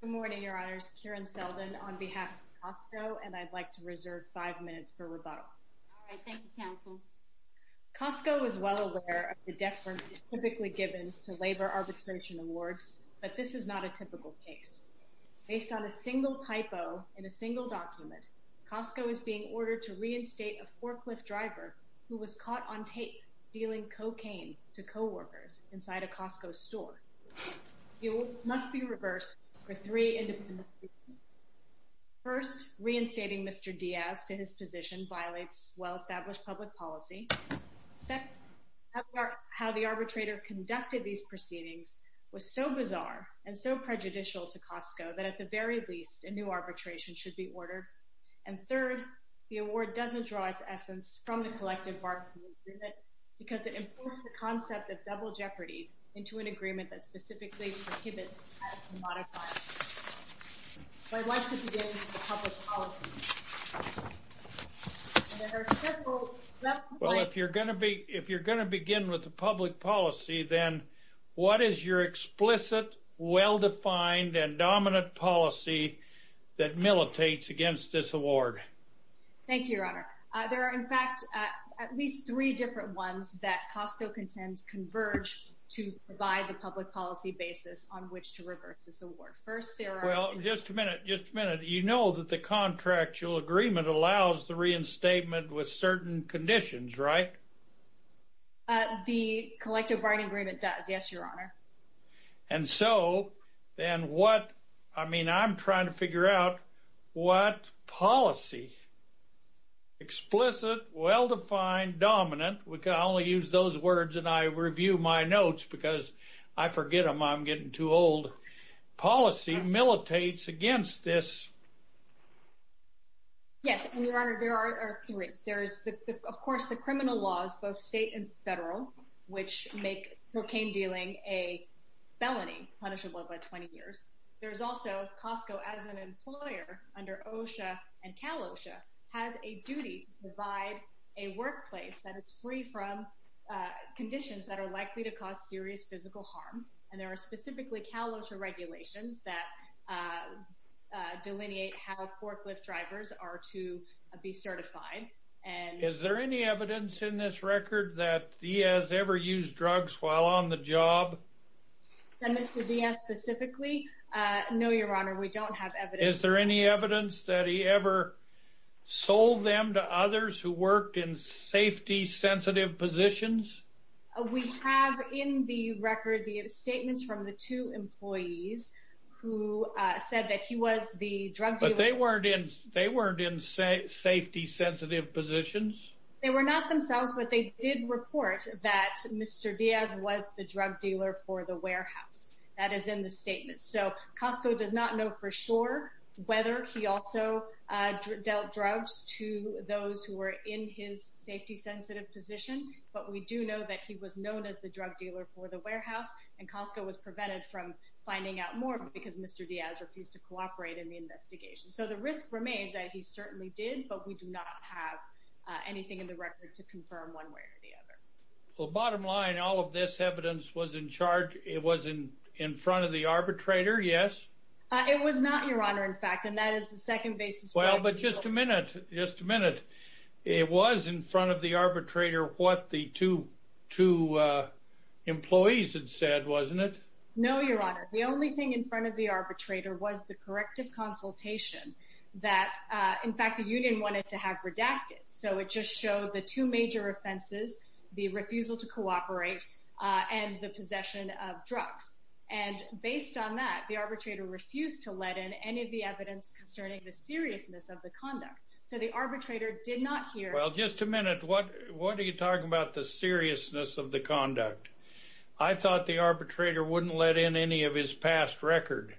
Good morning, Your Honors. Karen Selden on behalf of COSTCO, and I'd like to reserve five minutes for rebuttal. All right. Thank you, Counsel. COSTCO is well aware of the deferment typically given to labor arbitration awards, but this is not a typical case. Based on a single typo in a single document, COSTCO is being ordered to reinstate a forklift driver who was caught on tape dealing cocaine to co-workers inside a COSTCO store. The award must be reversed for three independent reasons. First, reinstating Mr. Diaz to his position violates well-established public policy. Second, how the arbitrator conducted these proceedings was so bizarre and so prejudicial to COSTCO that, at the very least, a new arbitration should be ordered. And third, the award doesn't draw its essence from the collective bargaining agreement because it imports the concept of double jeopardy into an agreement that specifically prohibits tax and modifier. So I'd like to begin with the public policy. Well, if you're going to begin with the public policy, then what is your explicit, well-defined, and dominant policy that militates against this award? Thank you, Your Honor. There are, in fact, at least three different ones that COSTCO contends converge to provide the public policy basis on which to reverse this award. First, there are- Well, just a minute, just a minute. You know that the contractual agreement allows the reinstatement with certain conditions, right? The collective bargaining agreement does, yes, Your Honor. And so then what, I mean, I'm trying to figure out what policy, explicit, well-defined, dominant, we can only use those words and I review my notes because I forget them, I'm getting too old, policy militates against this. Yes, and Your Honor, there are three. There's, of course, the criminal laws, both state and local, that make a felony punishable by 20 years. There's also, COSTCO, as an employer under OSHA and Cal-OSHA, has a duty to provide a workplace that is free from conditions that are likely to cause serious physical harm, and there are specifically Cal-OSHA regulations that delineate how forklift drivers are to be certified. Is there any evidence in this record that Diaz ever used drugs while on the job? That Mr. Diaz specifically? No, Your Honor, we don't have evidence. Is there any evidence that he ever sold them to others who worked in safety-sensitive positions? We have in the record the statements from the two employees who said that he was the They were not themselves, but they did report that Mr. Diaz was the drug dealer for the warehouse. That is in the statement. So, COSTCO does not know for sure whether he also dealt drugs to those who were in his safety-sensitive position, but we do know that he was known as the drug dealer for the warehouse, and COSTCO was prevented from finding out more because Mr. Diaz refused to cooperate in the investigation. So the risk remains that he certainly did, but we do not have anything in the record to confirm one way or the other. Well, bottom line, all of this evidence was in charge, it was in front of the arbitrator, yes? It was not, Your Honor, in fact, and that is the second basis. Well, but just a minute, just a minute. It was in front of the arbitrator what the two employees had said, wasn't it? No, Your Honor. The only thing in front of the arbitrator was the corrective consultation that, in fact, the union wanted to have redacted. So it just showed the two major offenses, the refusal to cooperate and the possession of drugs. And based on that, the arbitrator refused to let in any of the evidence concerning the seriousness of the conduct. So the arbitrator did not hear... Well, just a minute. What are you talking about, the seriousness of the conduct? I thought the arbitrator wouldn't let in any of his past record.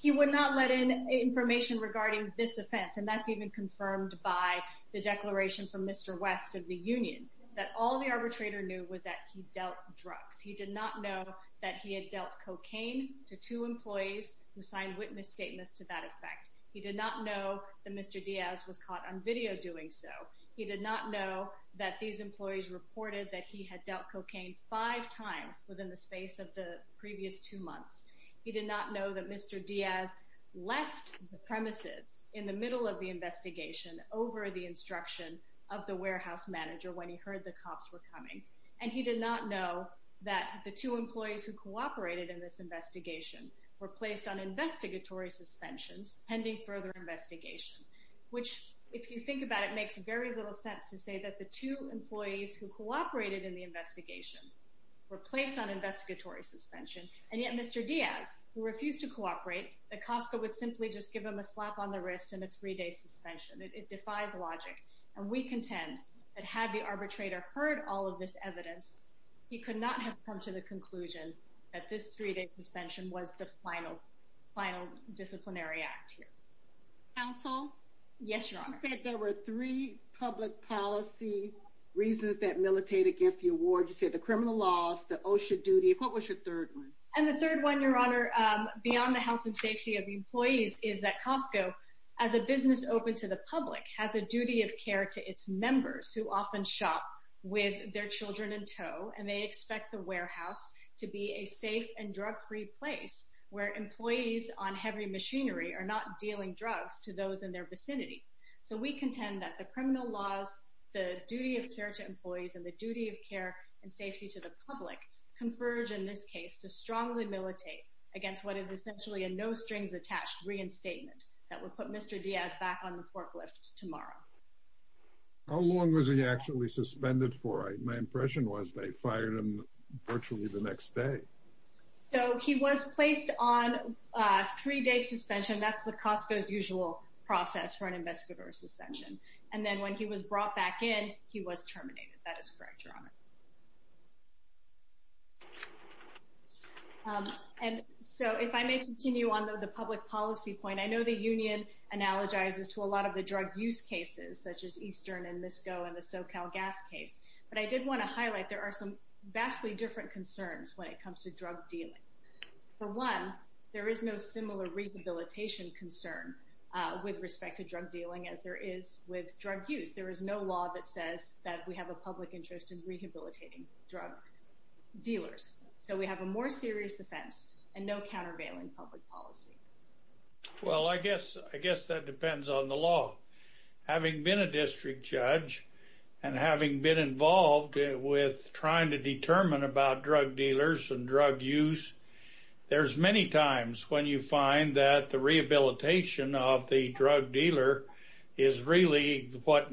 He would not let in information regarding this offense, and that's even confirmed by the declaration from Mr. West of the union, that all the arbitrator knew was that he dealt drugs. He did not know that he had dealt cocaine to two employees who signed witness statements to that effect. He did not know that Mr. Diaz was caught on video doing so. He did not know that these employees reported that he had dealt cocaine five times within the space of the previous two months. He did not know that Mr. Diaz left the premises in the middle of the investigation over the instruction of the warehouse manager when he heard the cops were coming. And he did not know that the two employees who cooperated in this investigation were placed on investigatory suspensions pending further investigation, which, if you think about it, makes very little sense to say that the two employees who cooperated in the investigation were placed on investigatory suspension, and yet Mr. Diaz, who refused to cooperate, that Costco would simply just give him a slap on the wrist and a three-day suspension. It defies logic. And we contend that had the arbitrator heard all of this evidence, he could not have come to the conclusion that this three-day suspension was the final disciplinary act here. Counsel? Yes, Your Honor. You said there were three public policy reasons that militate against the award. You said the criminal laws, the OSHA duty. What was your third one? And the third one, Your Honor, beyond the health and safety of employees, is that Costco, as a business open to the public, has a duty of care to its members who often shop with their children in tow, and they expect the warehouse to be a safe and drug-free place where employees on heavy machinery are not dealing drugs to those in their vicinity. So we contend that the criminal laws, the duty of care to employees, and the duty of care and safety to the public converge in this case to strongly militate against what is essentially a no-strings-attached reinstatement that would put Mr. Diaz back on the forklift tomorrow. How long was he actually suspended for? My impression was they fired him virtually the next day. So he was placed on a three-day suspension. That's the Costco's usual process for an investigator suspension. And then when he was brought back in, he was terminated. That is correct, Your Honor. And so if I may continue on the public policy point, I know the union analogizes to a lot of the drug use cases, such as Eastern and MISCO and the SoCalGas case, but I did want to highlight there are some vastly different concerns when it comes to drug dealing. For one, there is no similar rehabilitation concern with respect to drug dealing as there is with drug use. There is no law that says that we have a public interest in rehabilitating drug dealers. So we have a more serious offense and no countervailing public policy. Well, I guess that depends on the law. Having been a district judge and having been involved with trying to determine about drug dealers and drug use, there's many times when you find that the rehabilitation of the drug dealer is really what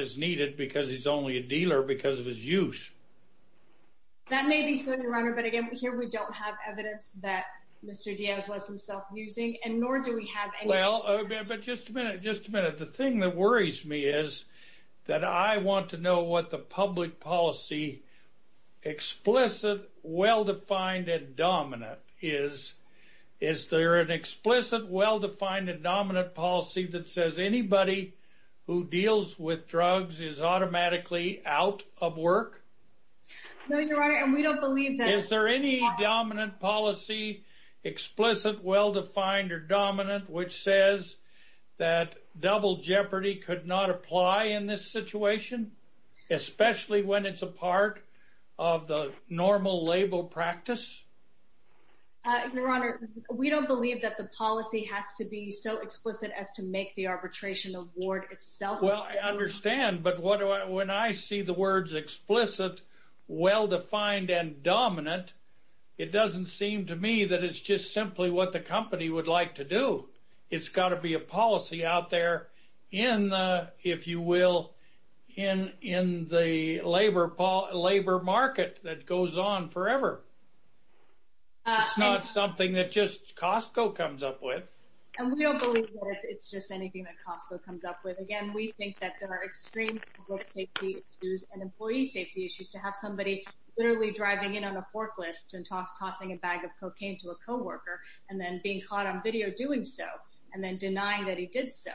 is needed because he's only a dealer because of his use. That may be so, Your Honor, but again, here we don't have evidence that Mr. Diaz was himself using and nor do we have any... Well, but just a minute, just a minute. The thing that worries me is that I want to know what the public policy explicit, well-defined, and dominant is. Is there an explicit, well-defined, and dominant policy that says anybody who deals with drugs is automatically out of work? No, Your Honor, and we don't believe that. Is there any dominant policy, explicit, well-defined, or dominant, which says that double jeopardy could not apply in this situation, especially when it's a part of the normal label practice? Your Honor, we don't believe that the policy has to be so explicit as to make the arbitration award itself... Well, I understand, but when I see the words explicit, well-defined, and dominant, it doesn't seem to me that it's just simply what the company would like to do. It's got to be a policy out there in the, if you will, in the labor market that goes on forever. It's not something that just Costco comes up with. And we don't believe that it's just anything that Costco comes up with. Again, we think that there are extreme drug safety issues and employee safety issues to have somebody literally driving in on a forklift and tossing a bag of cocaine to a co-worker and then being caught on video doing so and then denying that he did so.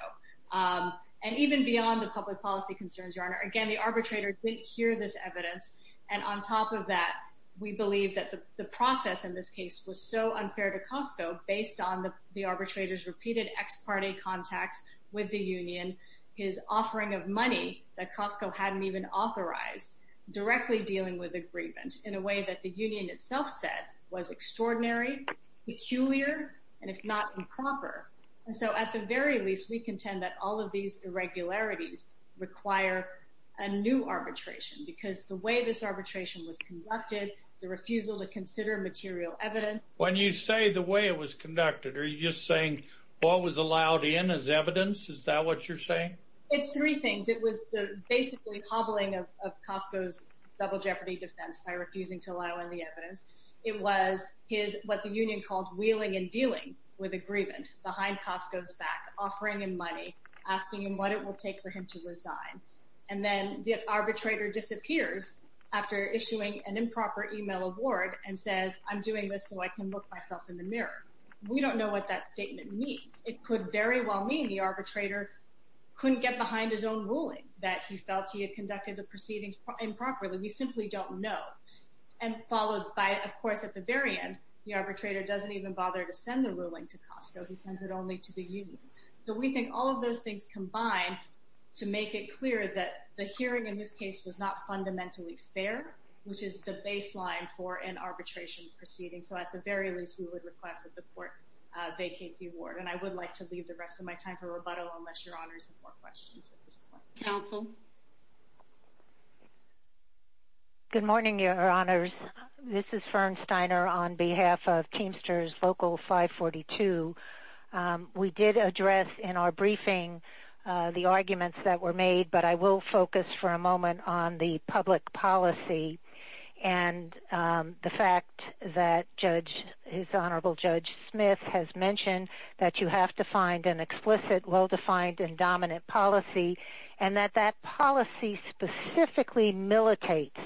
And even beyond the public policy concerns, Your Honor, again, the arbitrator didn't hear this evidence, and on top of that, we believe that the process in this case was so unfair to Costco based on the arbitrator's repeated ex-party contacts with the union, his offering of money that Costco hadn't even authorized, directly dealing with agreement in a way that the union itself said was extraordinary, peculiar, and if not improper. And so at the very least, we contend that all of these irregularities require a new arbitration because the way this arbitration was conducted, the refusal to consider material evidence... When you say the way it was conducted, are you just saying what was allowed in as evidence? Is that what you're saying? It's three things. It was the basically hobbling of Costco's double jeopardy defense by refusing to allow in the evidence. It was what the union called wheeling and dealing with agreement behind Costco's back, offering him money, asking him what it will take for him to resign. And then the arbitrator disappears after issuing an improper email award and says, I'm doing this so I can look myself in the mirror. We don't know what that statement means. It could very well mean the arbitrator couldn't get behind his own ruling, that he felt he had conducted the proceedings improperly. We simply don't know. And followed by, of course, at the very end, the arbitrator doesn't even bother to send the ruling to Costco. He sends it only to the union. So we think all of those things combine to make it clear that the hearing in this case was not fundamentally fair, which is the baseline for an arbitration proceeding. So at the very least, we would request that the court vacate the award. And I would like to leave the rest of my time for rebuttal unless Your Honors have more questions at this point. Counsel? Good morning, Your Honors. This is Fern Steiner on behalf of Teamsters Local 542. We did address in our briefing the arguments that were made, but I will focus for a moment on the public policy and the fact that Judge, His Honorable Judge Smith has mentioned that you have to find an explicit, well-defined, and dominant policy, and that that policy specifically militates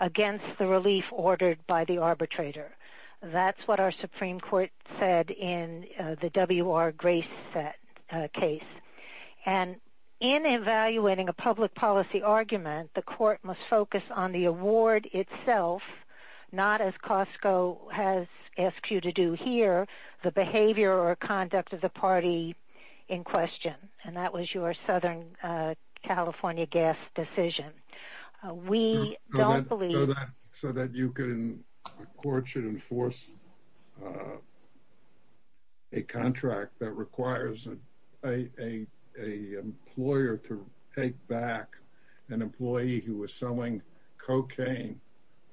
against the relief ordered by the arbitrator. That's what our Supreme Court said in the W.R. Grace case. And in evaluating a public policy argument, the court must focus on the award itself, not as Costco has asked you to do here, the behavior or conduct of the party in question. And that was your Southern California gas decision. We don't believe that. So that you can, the court should enforce a contract that requires an employer to take back an employee who was selling cocaine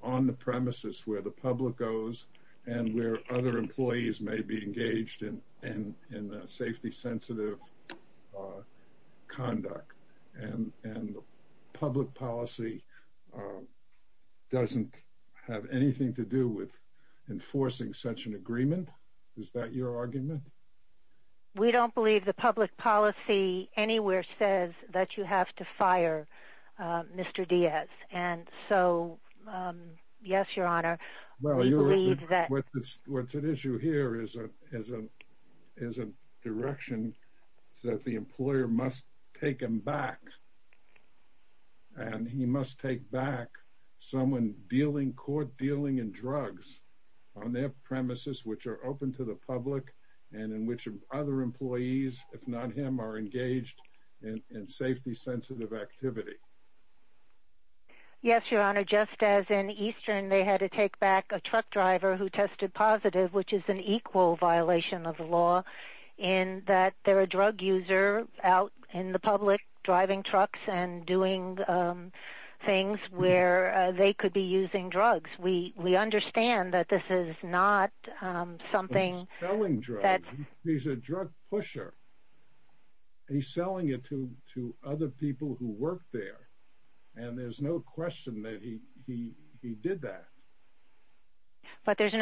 on the premises where the public goes and where other employees may be engaged in safety-sensitive conduct. And the public policy doesn't have anything to do with enforcing such an agreement? Is that your argument? We don't believe the public policy anywhere says that you have to fire Mr. Diaz. What's at issue here is a direction that the employer must take him back. And he must take back someone dealing, court dealing in drugs on their premises which are open to the public and in which other employees, if not him, are engaged in safety-sensitive activity. Yes, Your Honor, just as in Eastern they had to take back a truck driver who tested positive, which is an equal violation of the law in that they're a drug user out in the public driving trucks and doing things where they could be using drugs. We understand that this is not something that... He's selling drugs. He's a drug pusher. He's selling it to other people who work there. And there's no question that he did that. But there's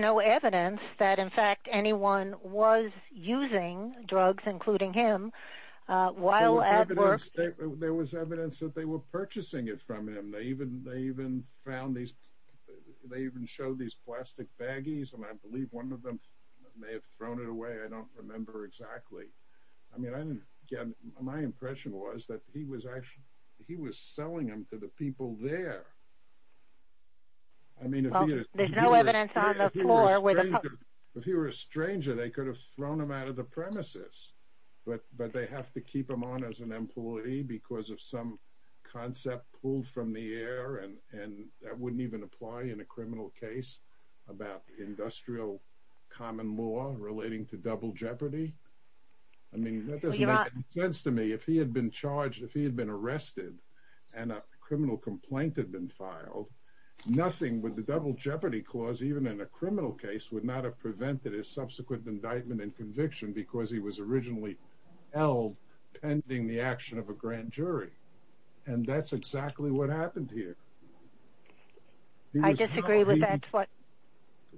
no evidence that, in fact, anyone was using drugs, including him, while at work. There was evidence that they were purchasing it from him. They even found these... They even showed these plastic baggies, and I believe one of them may have thrown it away. I don't remember exactly. I mean, again, my impression was that he was selling them to the people there. I mean, if he were a stranger, they could have thrown them out of the premises. But they have to keep them on as an employee because of some concept pulled from the air, and that wouldn't even apply in a criminal case about industrial common law relating to double jeopardy. I mean, that doesn't make any sense to me. If he had been charged, if he had been arrested, and a criminal complaint had been filed, nothing with the double jeopardy clause, even in a criminal case, would not have prevented his subsequent indictment and conviction because he was originally held pending the action of a grand jury. And that's exactly what happened here. I disagree with that.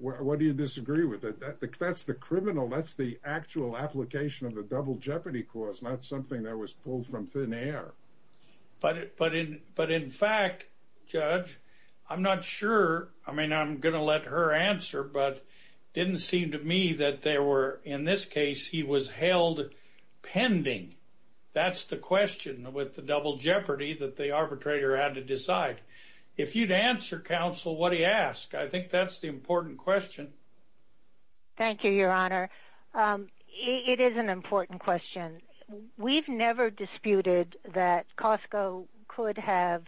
What do you disagree with? That's the criminal. That's the actual application of the double jeopardy clause, not something that was pulled from thin air. But in fact, Judge, I'm not sure. I mean, I'm going to let her answer, but it didn't seem to me that there were... In this case, he was held pending. That's the question with the double jeopardy that the arbitrator had to decide. If you'd answer, counsel, what he asked, I think that's the important question. Thank you, Your Honor. It is an important question. We've never disputed that Costco could have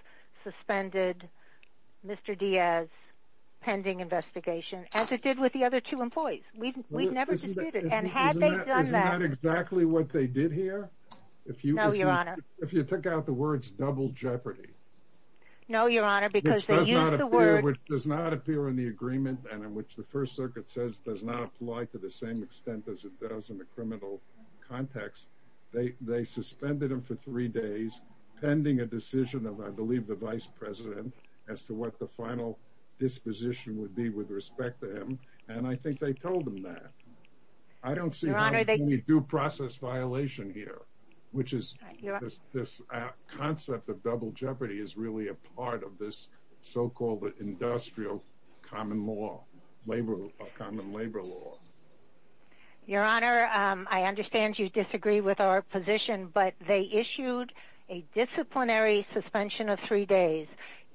suspended Mr. Diaz's pending investigation, as it did with the other two employees. We've never disputed it. And had they done that... Isn't that exactly what they did here? No, Your Honor. If you took out the words double jeopardy... No, Your Honor, because they used the word... Which does not appear in the agreement and in which the First Circuit says does not apply to the same extent as it does in the criminal context. They suspended him for three days pending a decision of, I believe, the vice president as to what the final disposition would be with respect to him. And I think they told him that. I don't see any due process violation here, which is this concept of double jeopardy is really a part of this so-called industrial common law, common labor law. Your Honor, I understand you disagree with our position, but they issued a disciplinary suspension of three days.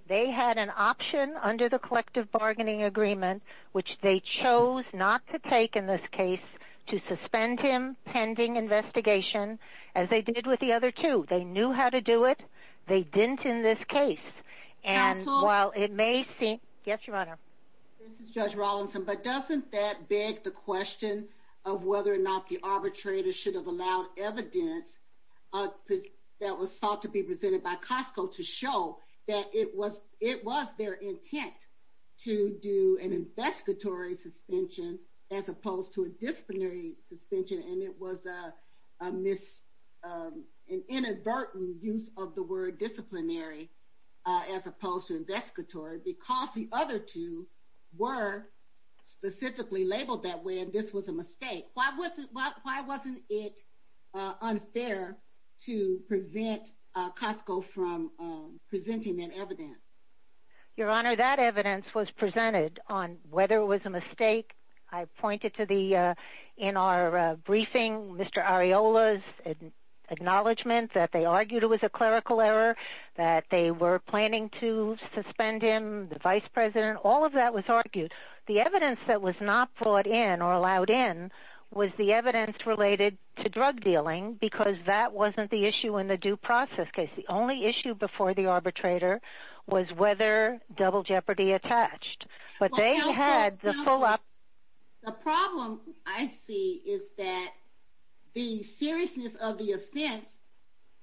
They had an option under the collective bargaining agreement, which they chose not to take in this case, to suspend him pending investigation, as they did with the other two. They knew how to do it. They didn't in this case. And while it may seem... Counsel? Yes, Your Honor. This is Judge Rollinson, but doesn't that beg the question of whether or not the arbitrator should have allowed evidence that was thought to be presented by Costco to show that it was their intent to do an investigatory suspension as opposed to a disciplinary suspension, and it was an inadvertent use of the word disciplinary as opposed to investigatory because the other two were specifically labeled that way and this was a mistake. Why wasn't it unfair to prevent Costco from presenting that evidence? Your Honor, that evidence was presented on whether it was a mistake. I pointed to the, in our briefing, Mr. Areola's acknowledgement that they argued it was a clerical error, that they were planning to suspend him, and the evidence that was not brought in or allowed in was the evidence related to drug dealing because that wasn't the issue in the due process case. The only issue before the arbitrator was whether double jeopardy attached. But they had the full... Counsel, the problem I see is that the seriousness of the offense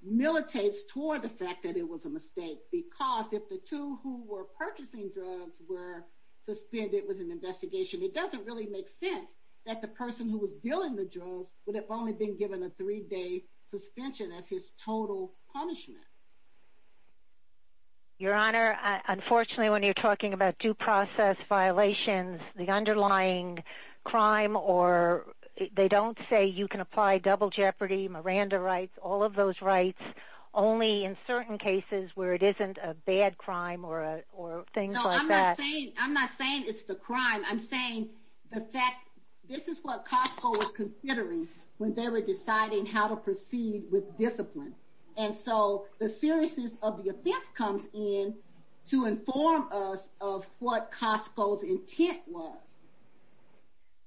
militates toward the fact that it was a mistake because if the two who were purchasing drugs were suspended with an investigation, it doesn't really make sense that the person who was dealing the drugs would have only been given a three-day suspension as his total punishment. Your Honor, unfortunately when you're talking about due process violations, the underlying crime or they don't say you can apply double jeopardy, Miranda rights, all of those rights, only in certain cases where it isn't a bad crime or things like that. No, I'm not saying it's the crime. I'm saying this is what Costco was considering when they were deciding how to proceed with discipline. And so the seriousness of the offense comes in to inform us of what Costco's intent was.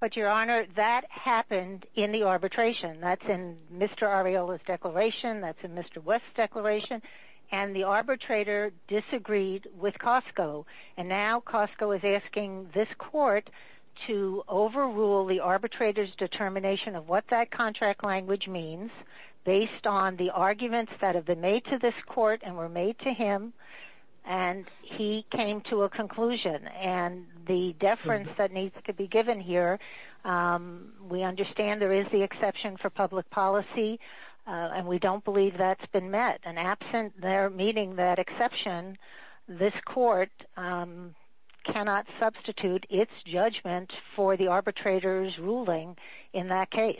But, Your Honor, that happened in the arbitration. That's in Mr. Arreola's declaration. That's in Mr. West's declaration. And the arbitrator disagreed with Costco. And now Costco is asking this court to overrule the arbitrator's determination of what that contract language means based on the arguments that have been made to this court and were made to him, and he came to a conclusion. And the deference that needs to be given here, we understand there is the exception for public policy, and we don't believe that's been met. And absent their meeting that exception, this court cannot substitute its judgment for the arbitrator's ruling in that case.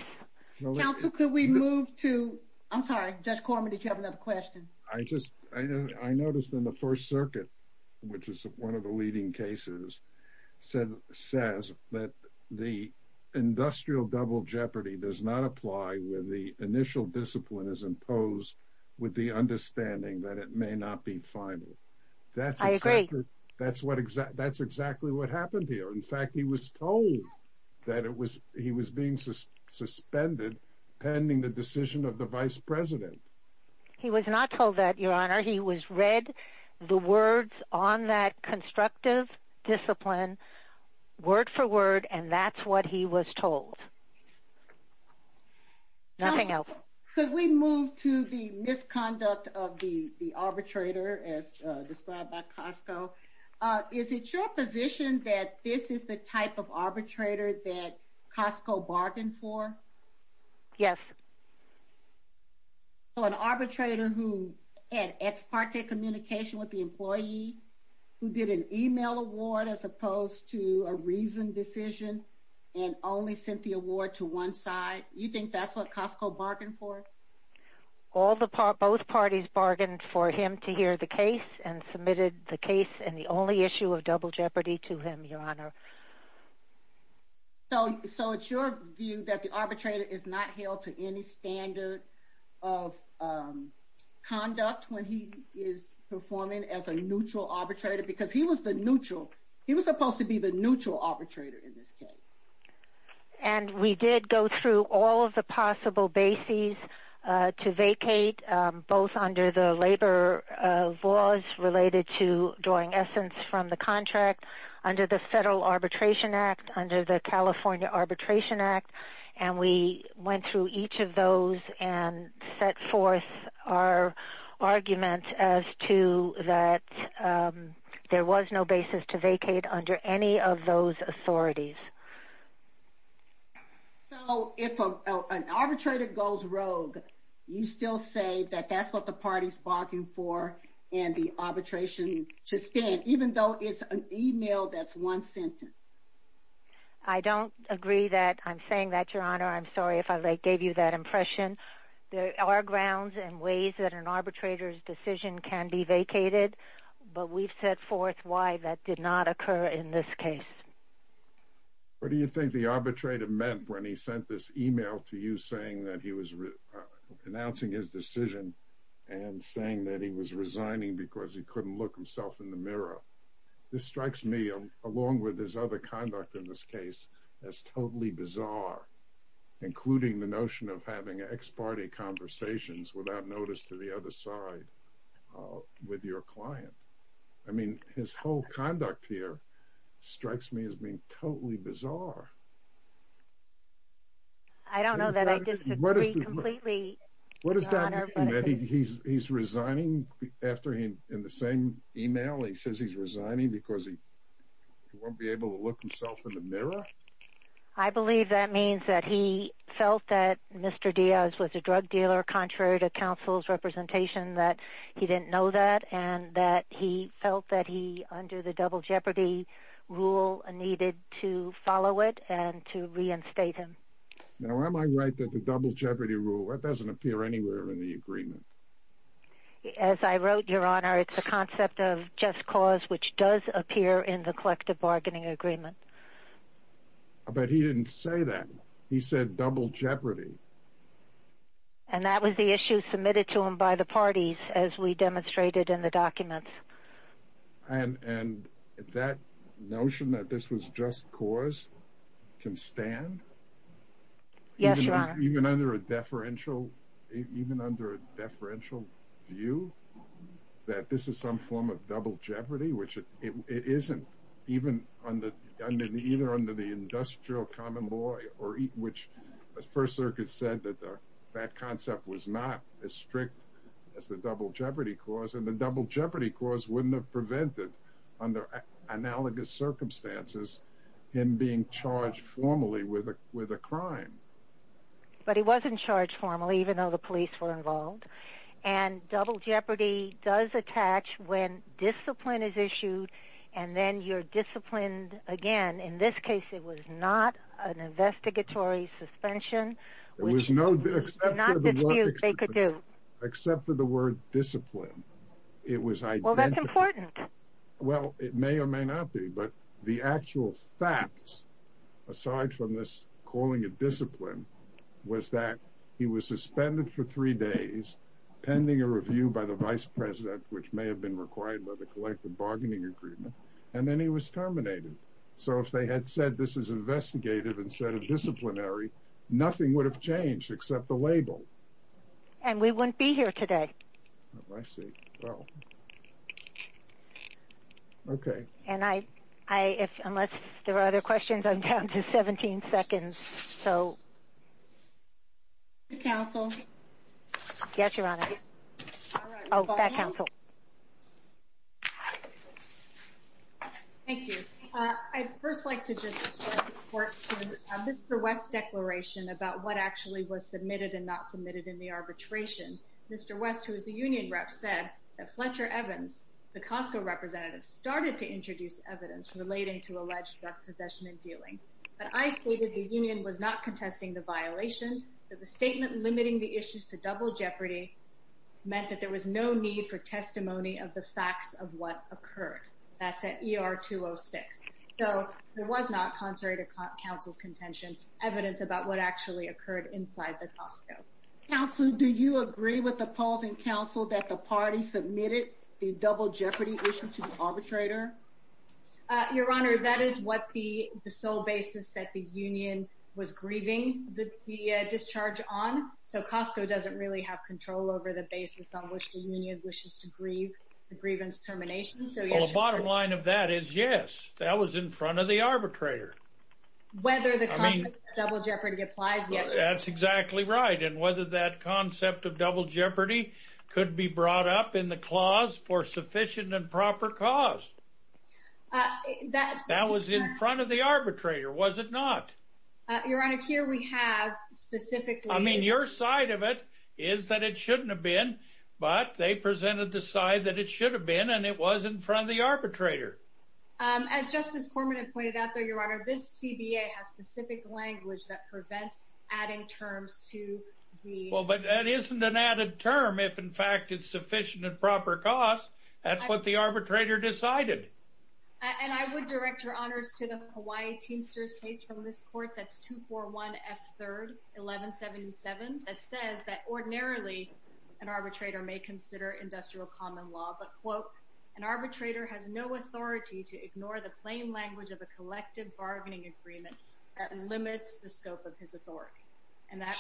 Counsel, could we move to – I'm sorry, Judge Corman, did you have another question? I noticed in the First Circuit, which is one of the leading cases, says that the industrial double jeopardy does not apply when the initial discipline is imposed with the understanding that it may not be final. I agree. That's exactly what happened here. In fact, he was told that he was being suspended pending the decision of the vice president. He was not told that, Your Honor. He was read the words on that constructive discipline word for word, and that's what he was told. Nothing else. Could we move to the misconduct of the arbitrator as described by Costco? Is it your position that this is the type of arbitrator that Costco bargained for? Yes. An arbitrator who had ex parte communication with the employee, who did an email award as opposed to a reasoned decision and only sent the award to one side, you think that's what Costco bargained for? Both parties bargained for him to hear the case and submitted the case and the only issue of double jeopardy to him, Your Honor. So it's your view that the arbitrator is not held to any standard of conduct when he is performing as a neutral arbitrator because he was the neutral. He was supposed to be the neutral arbitrator in this case. And we did go through all of the possible bases to vacate both under the labor laws related to drawing essence from the contract, under the Federal Arbitration Act, under the California Arbitration Act, and we went through each of those and set forth our argument as to that there was no basis to vacate under any of those authorities. So if an arbitrator goes rogue, you still say that that's what the party's bargained for and the arbitration should stand, even though it's an email that's one sentence. I don't agree that I'm saying that, Your Honor. I'm sorry if I gave you that impression. There are grounds and ways that an arbitrator's decision can be vacated, but we've set forth why that did not occur in this case. What do you think the arbitrator meant when he sent this email to you announcing his decision and saying that he was resigning because he couldn't look himself in the mirror? This strikes me, along with his other conduct in this case, as totally bizarre, including the notion of having ex-party conversations without notice to the other side with your client. I mean, his whole conduct here strikes me as being totally bizarre. I don't know that I disagree completely, Your Honor. What does that mean, that he's resigning after in the same email he says he's resigning because he won't be able to look himself in the mirror? I believe that means that he felt that Mr. Diaz was a drug dealer, contrary to counsel's representation, that he didn't know that and that he felt that he, under the double jeopardy rule, needed to follow it and to reinstate him. Now, am I right that the double jeopardy rule doesn't appear anywhere in the agreement? As I wrote, Your Honor, it's a concept of just cause which does appear in the collective bargaining agreement. But he didn't say that. He said double jeopardy. And that was the issue submitted to him by the parties, as we demonstrated in the documents. And that notion that this was just cause can stand? Yes, Your Honor. Even under a deferential view, that this is some form of double jeopardy, which it isn't, even under the Industrial Common Law, which the First Circuit said that that concept was not as strict as the double jeopardy clause. And the double jeopardy clause wouldn't have prevented, under analogous circumstances, him being charged formally with a crime. But he wasn't charged formally, even though the police were involved. And double jeopardy does attach when discipline is issued, and then you're disciplined again. In this case, it was not an investigatory suspension. There was no dispute they could do. Except for the word discipline. Well, that's important. Well, it may or may not be. But the actual facts, aside from this calling it discipline, was that he was suspended for three days, pending a review by the vice president, which may have been required by the collective bargaining agreement, and then he was terminated. So if they had said this is investigative instead of disciplinary, nothing would have changed except the label. And we wouldn't be here today. I see. So. Okay. And unless there are other questions, I'm down to 17 seconds. So. Counsel. Yes, Your Honor. Oh, back, counsel. Thank you. I'd first like to just report to Mr. West's declaration about what actually was submitted and not submitted in the arbitration. Mr. West, who is the union rep, said that Fletcher Evans, the Costco representative, started to introduce evidence relating to alleged drug possession and dealing. But I stated the union was not contesting the violation, that the statement limiting the issues to double jeopardy meant that there was no need for testimony of the facts of what occurred. That's at ER 206. So there was not, contrary to counsel's contention, evidence about what actually occurred inside the Costco. Counsel, do you agree with the polls and counsel that the party submitted the double jeopardy issue to the arbitrator? Your Honor, that is what the sole basis that the union was grieving the discharge on. So Costco doesn't really have control over the basis on which the union wishes to grieve the grievance termination. Well, the bottom line of that is, yes, that was in front of the arbitrator. Whether the double jeopardy applies, yes. That's exactly right. And whether that concept of double jeopardy could be brought up in the clause for sufficient and proper cause. That was in front of the arbitrator, was it not? Your Honor, here we have specifically— I mean, your side of it is that it shouldn't have been. But they presented the side that it should have been, and it was in front of the arbitrator. As Justice Cormann had pointed out, Your Honor, this CBA has specific language that prevents adding terms to the— Well, but that isn't an added term if, in fact, it's sufficient and proper cause. That's what the arbitrator decided. And I would direct your honors to the Hawaii Teamsters case from this court. That's 241 F. 3rd, 1177, that says that ordinarily an arbitrator may consider industrial common law. But, quote, an arbitrator has no authority to ignore the plain language of a collective bargaining agreement that limits the scope of his authority.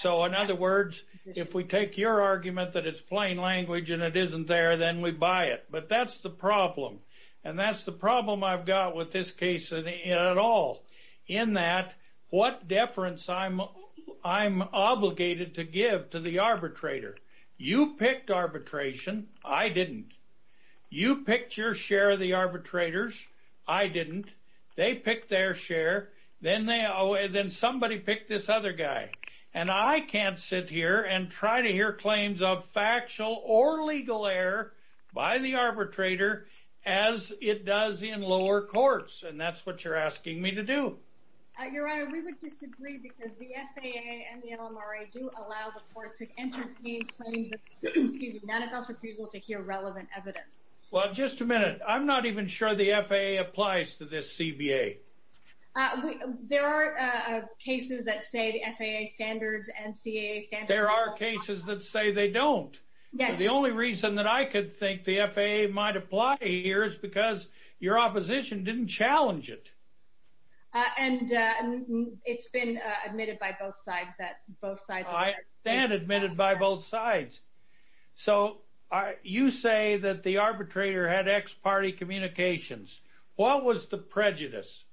So, in other words, if we take your argument that it's plain language and it isn't there, then we buy it. But that's the problem. And that's the problem I've got with this case at all, in that what deference I'm obligated to give to the arbitrator. You picked arbitration. I didn't. You picked your share of the arbitrators. I didn't. They picked their share. Then somebody picked this other guy. And I can't sit here and try to hear claims of factual or legal error by the arbitrator as it does in lower courts. And that's what you're asking me to do. Your Honor, we would disagree because the FAA and the LMRA do allow the court to entertain claims of non-advanced refusal to hear relevant evidence. Well, just a minute. I'm not even sure the FAA applies to this CBA. There are cases that say the FAA standards and CAA standards. There are cases that say they don't. Yes. The only reason that I could think the FAA might apply here is because your opposition didn't challenge it. And it's been admitted by both sides. I stand admitted by both sides. So you say that the arbitrator had ex-party communications. What was the prejudice?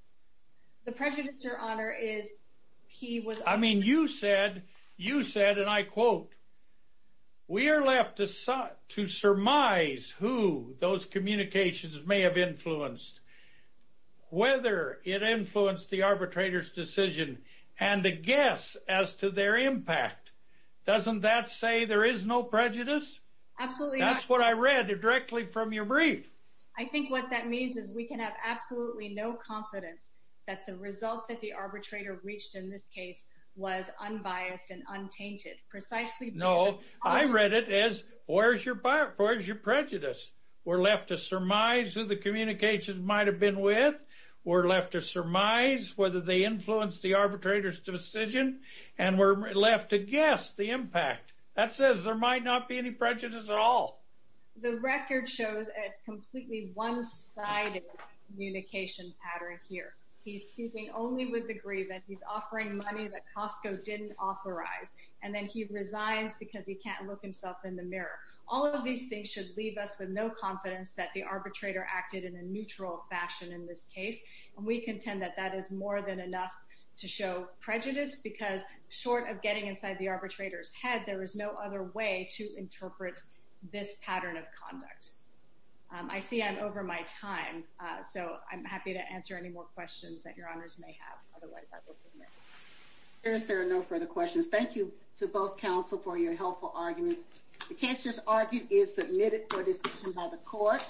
The prejudice, Your Honor, is he was— I mean, you said, and I quote, We are left to surmise who those communications may have influenced, whether it influenced the arbitrator's decision, and to guess as to their impact. Doesn't that say there is no prejudice? Absolutely not. That's what I read directly from your brief. I think what that means is we can have absolutely no confidence that the result that the arbitrator reached in this case was unbiased and untainted. Precisely because— No, I read it as, Where's your prejudice? We're left to surmise who the communications might have been with. We're left to surmise whether they influenced the arbitrator's decision. And we're left to guess the impact. That says there might not be any prejudice at all. The record shows a completely one-sided communication pattern here. He's speaking only with the degree that he's offering money that Costco didn't authorize. And then he resigns because he can't look himself in the mirror. All of these things should leave us with no confidence that the arbitrator acted in a neutral fashion in this case. And we contend that that is more than enough to show prejudice. Because short of getting inside the arbitrator's head, there is no other way to interpret this pattern of conduct. I see I'm over my time, so I'm happy to answer any more questions that your honors may have. Otherwise, I will submit. There are no further questions. Thank you to both counsel for your helpful arguments. The case just argued is submitted for discussion by the court.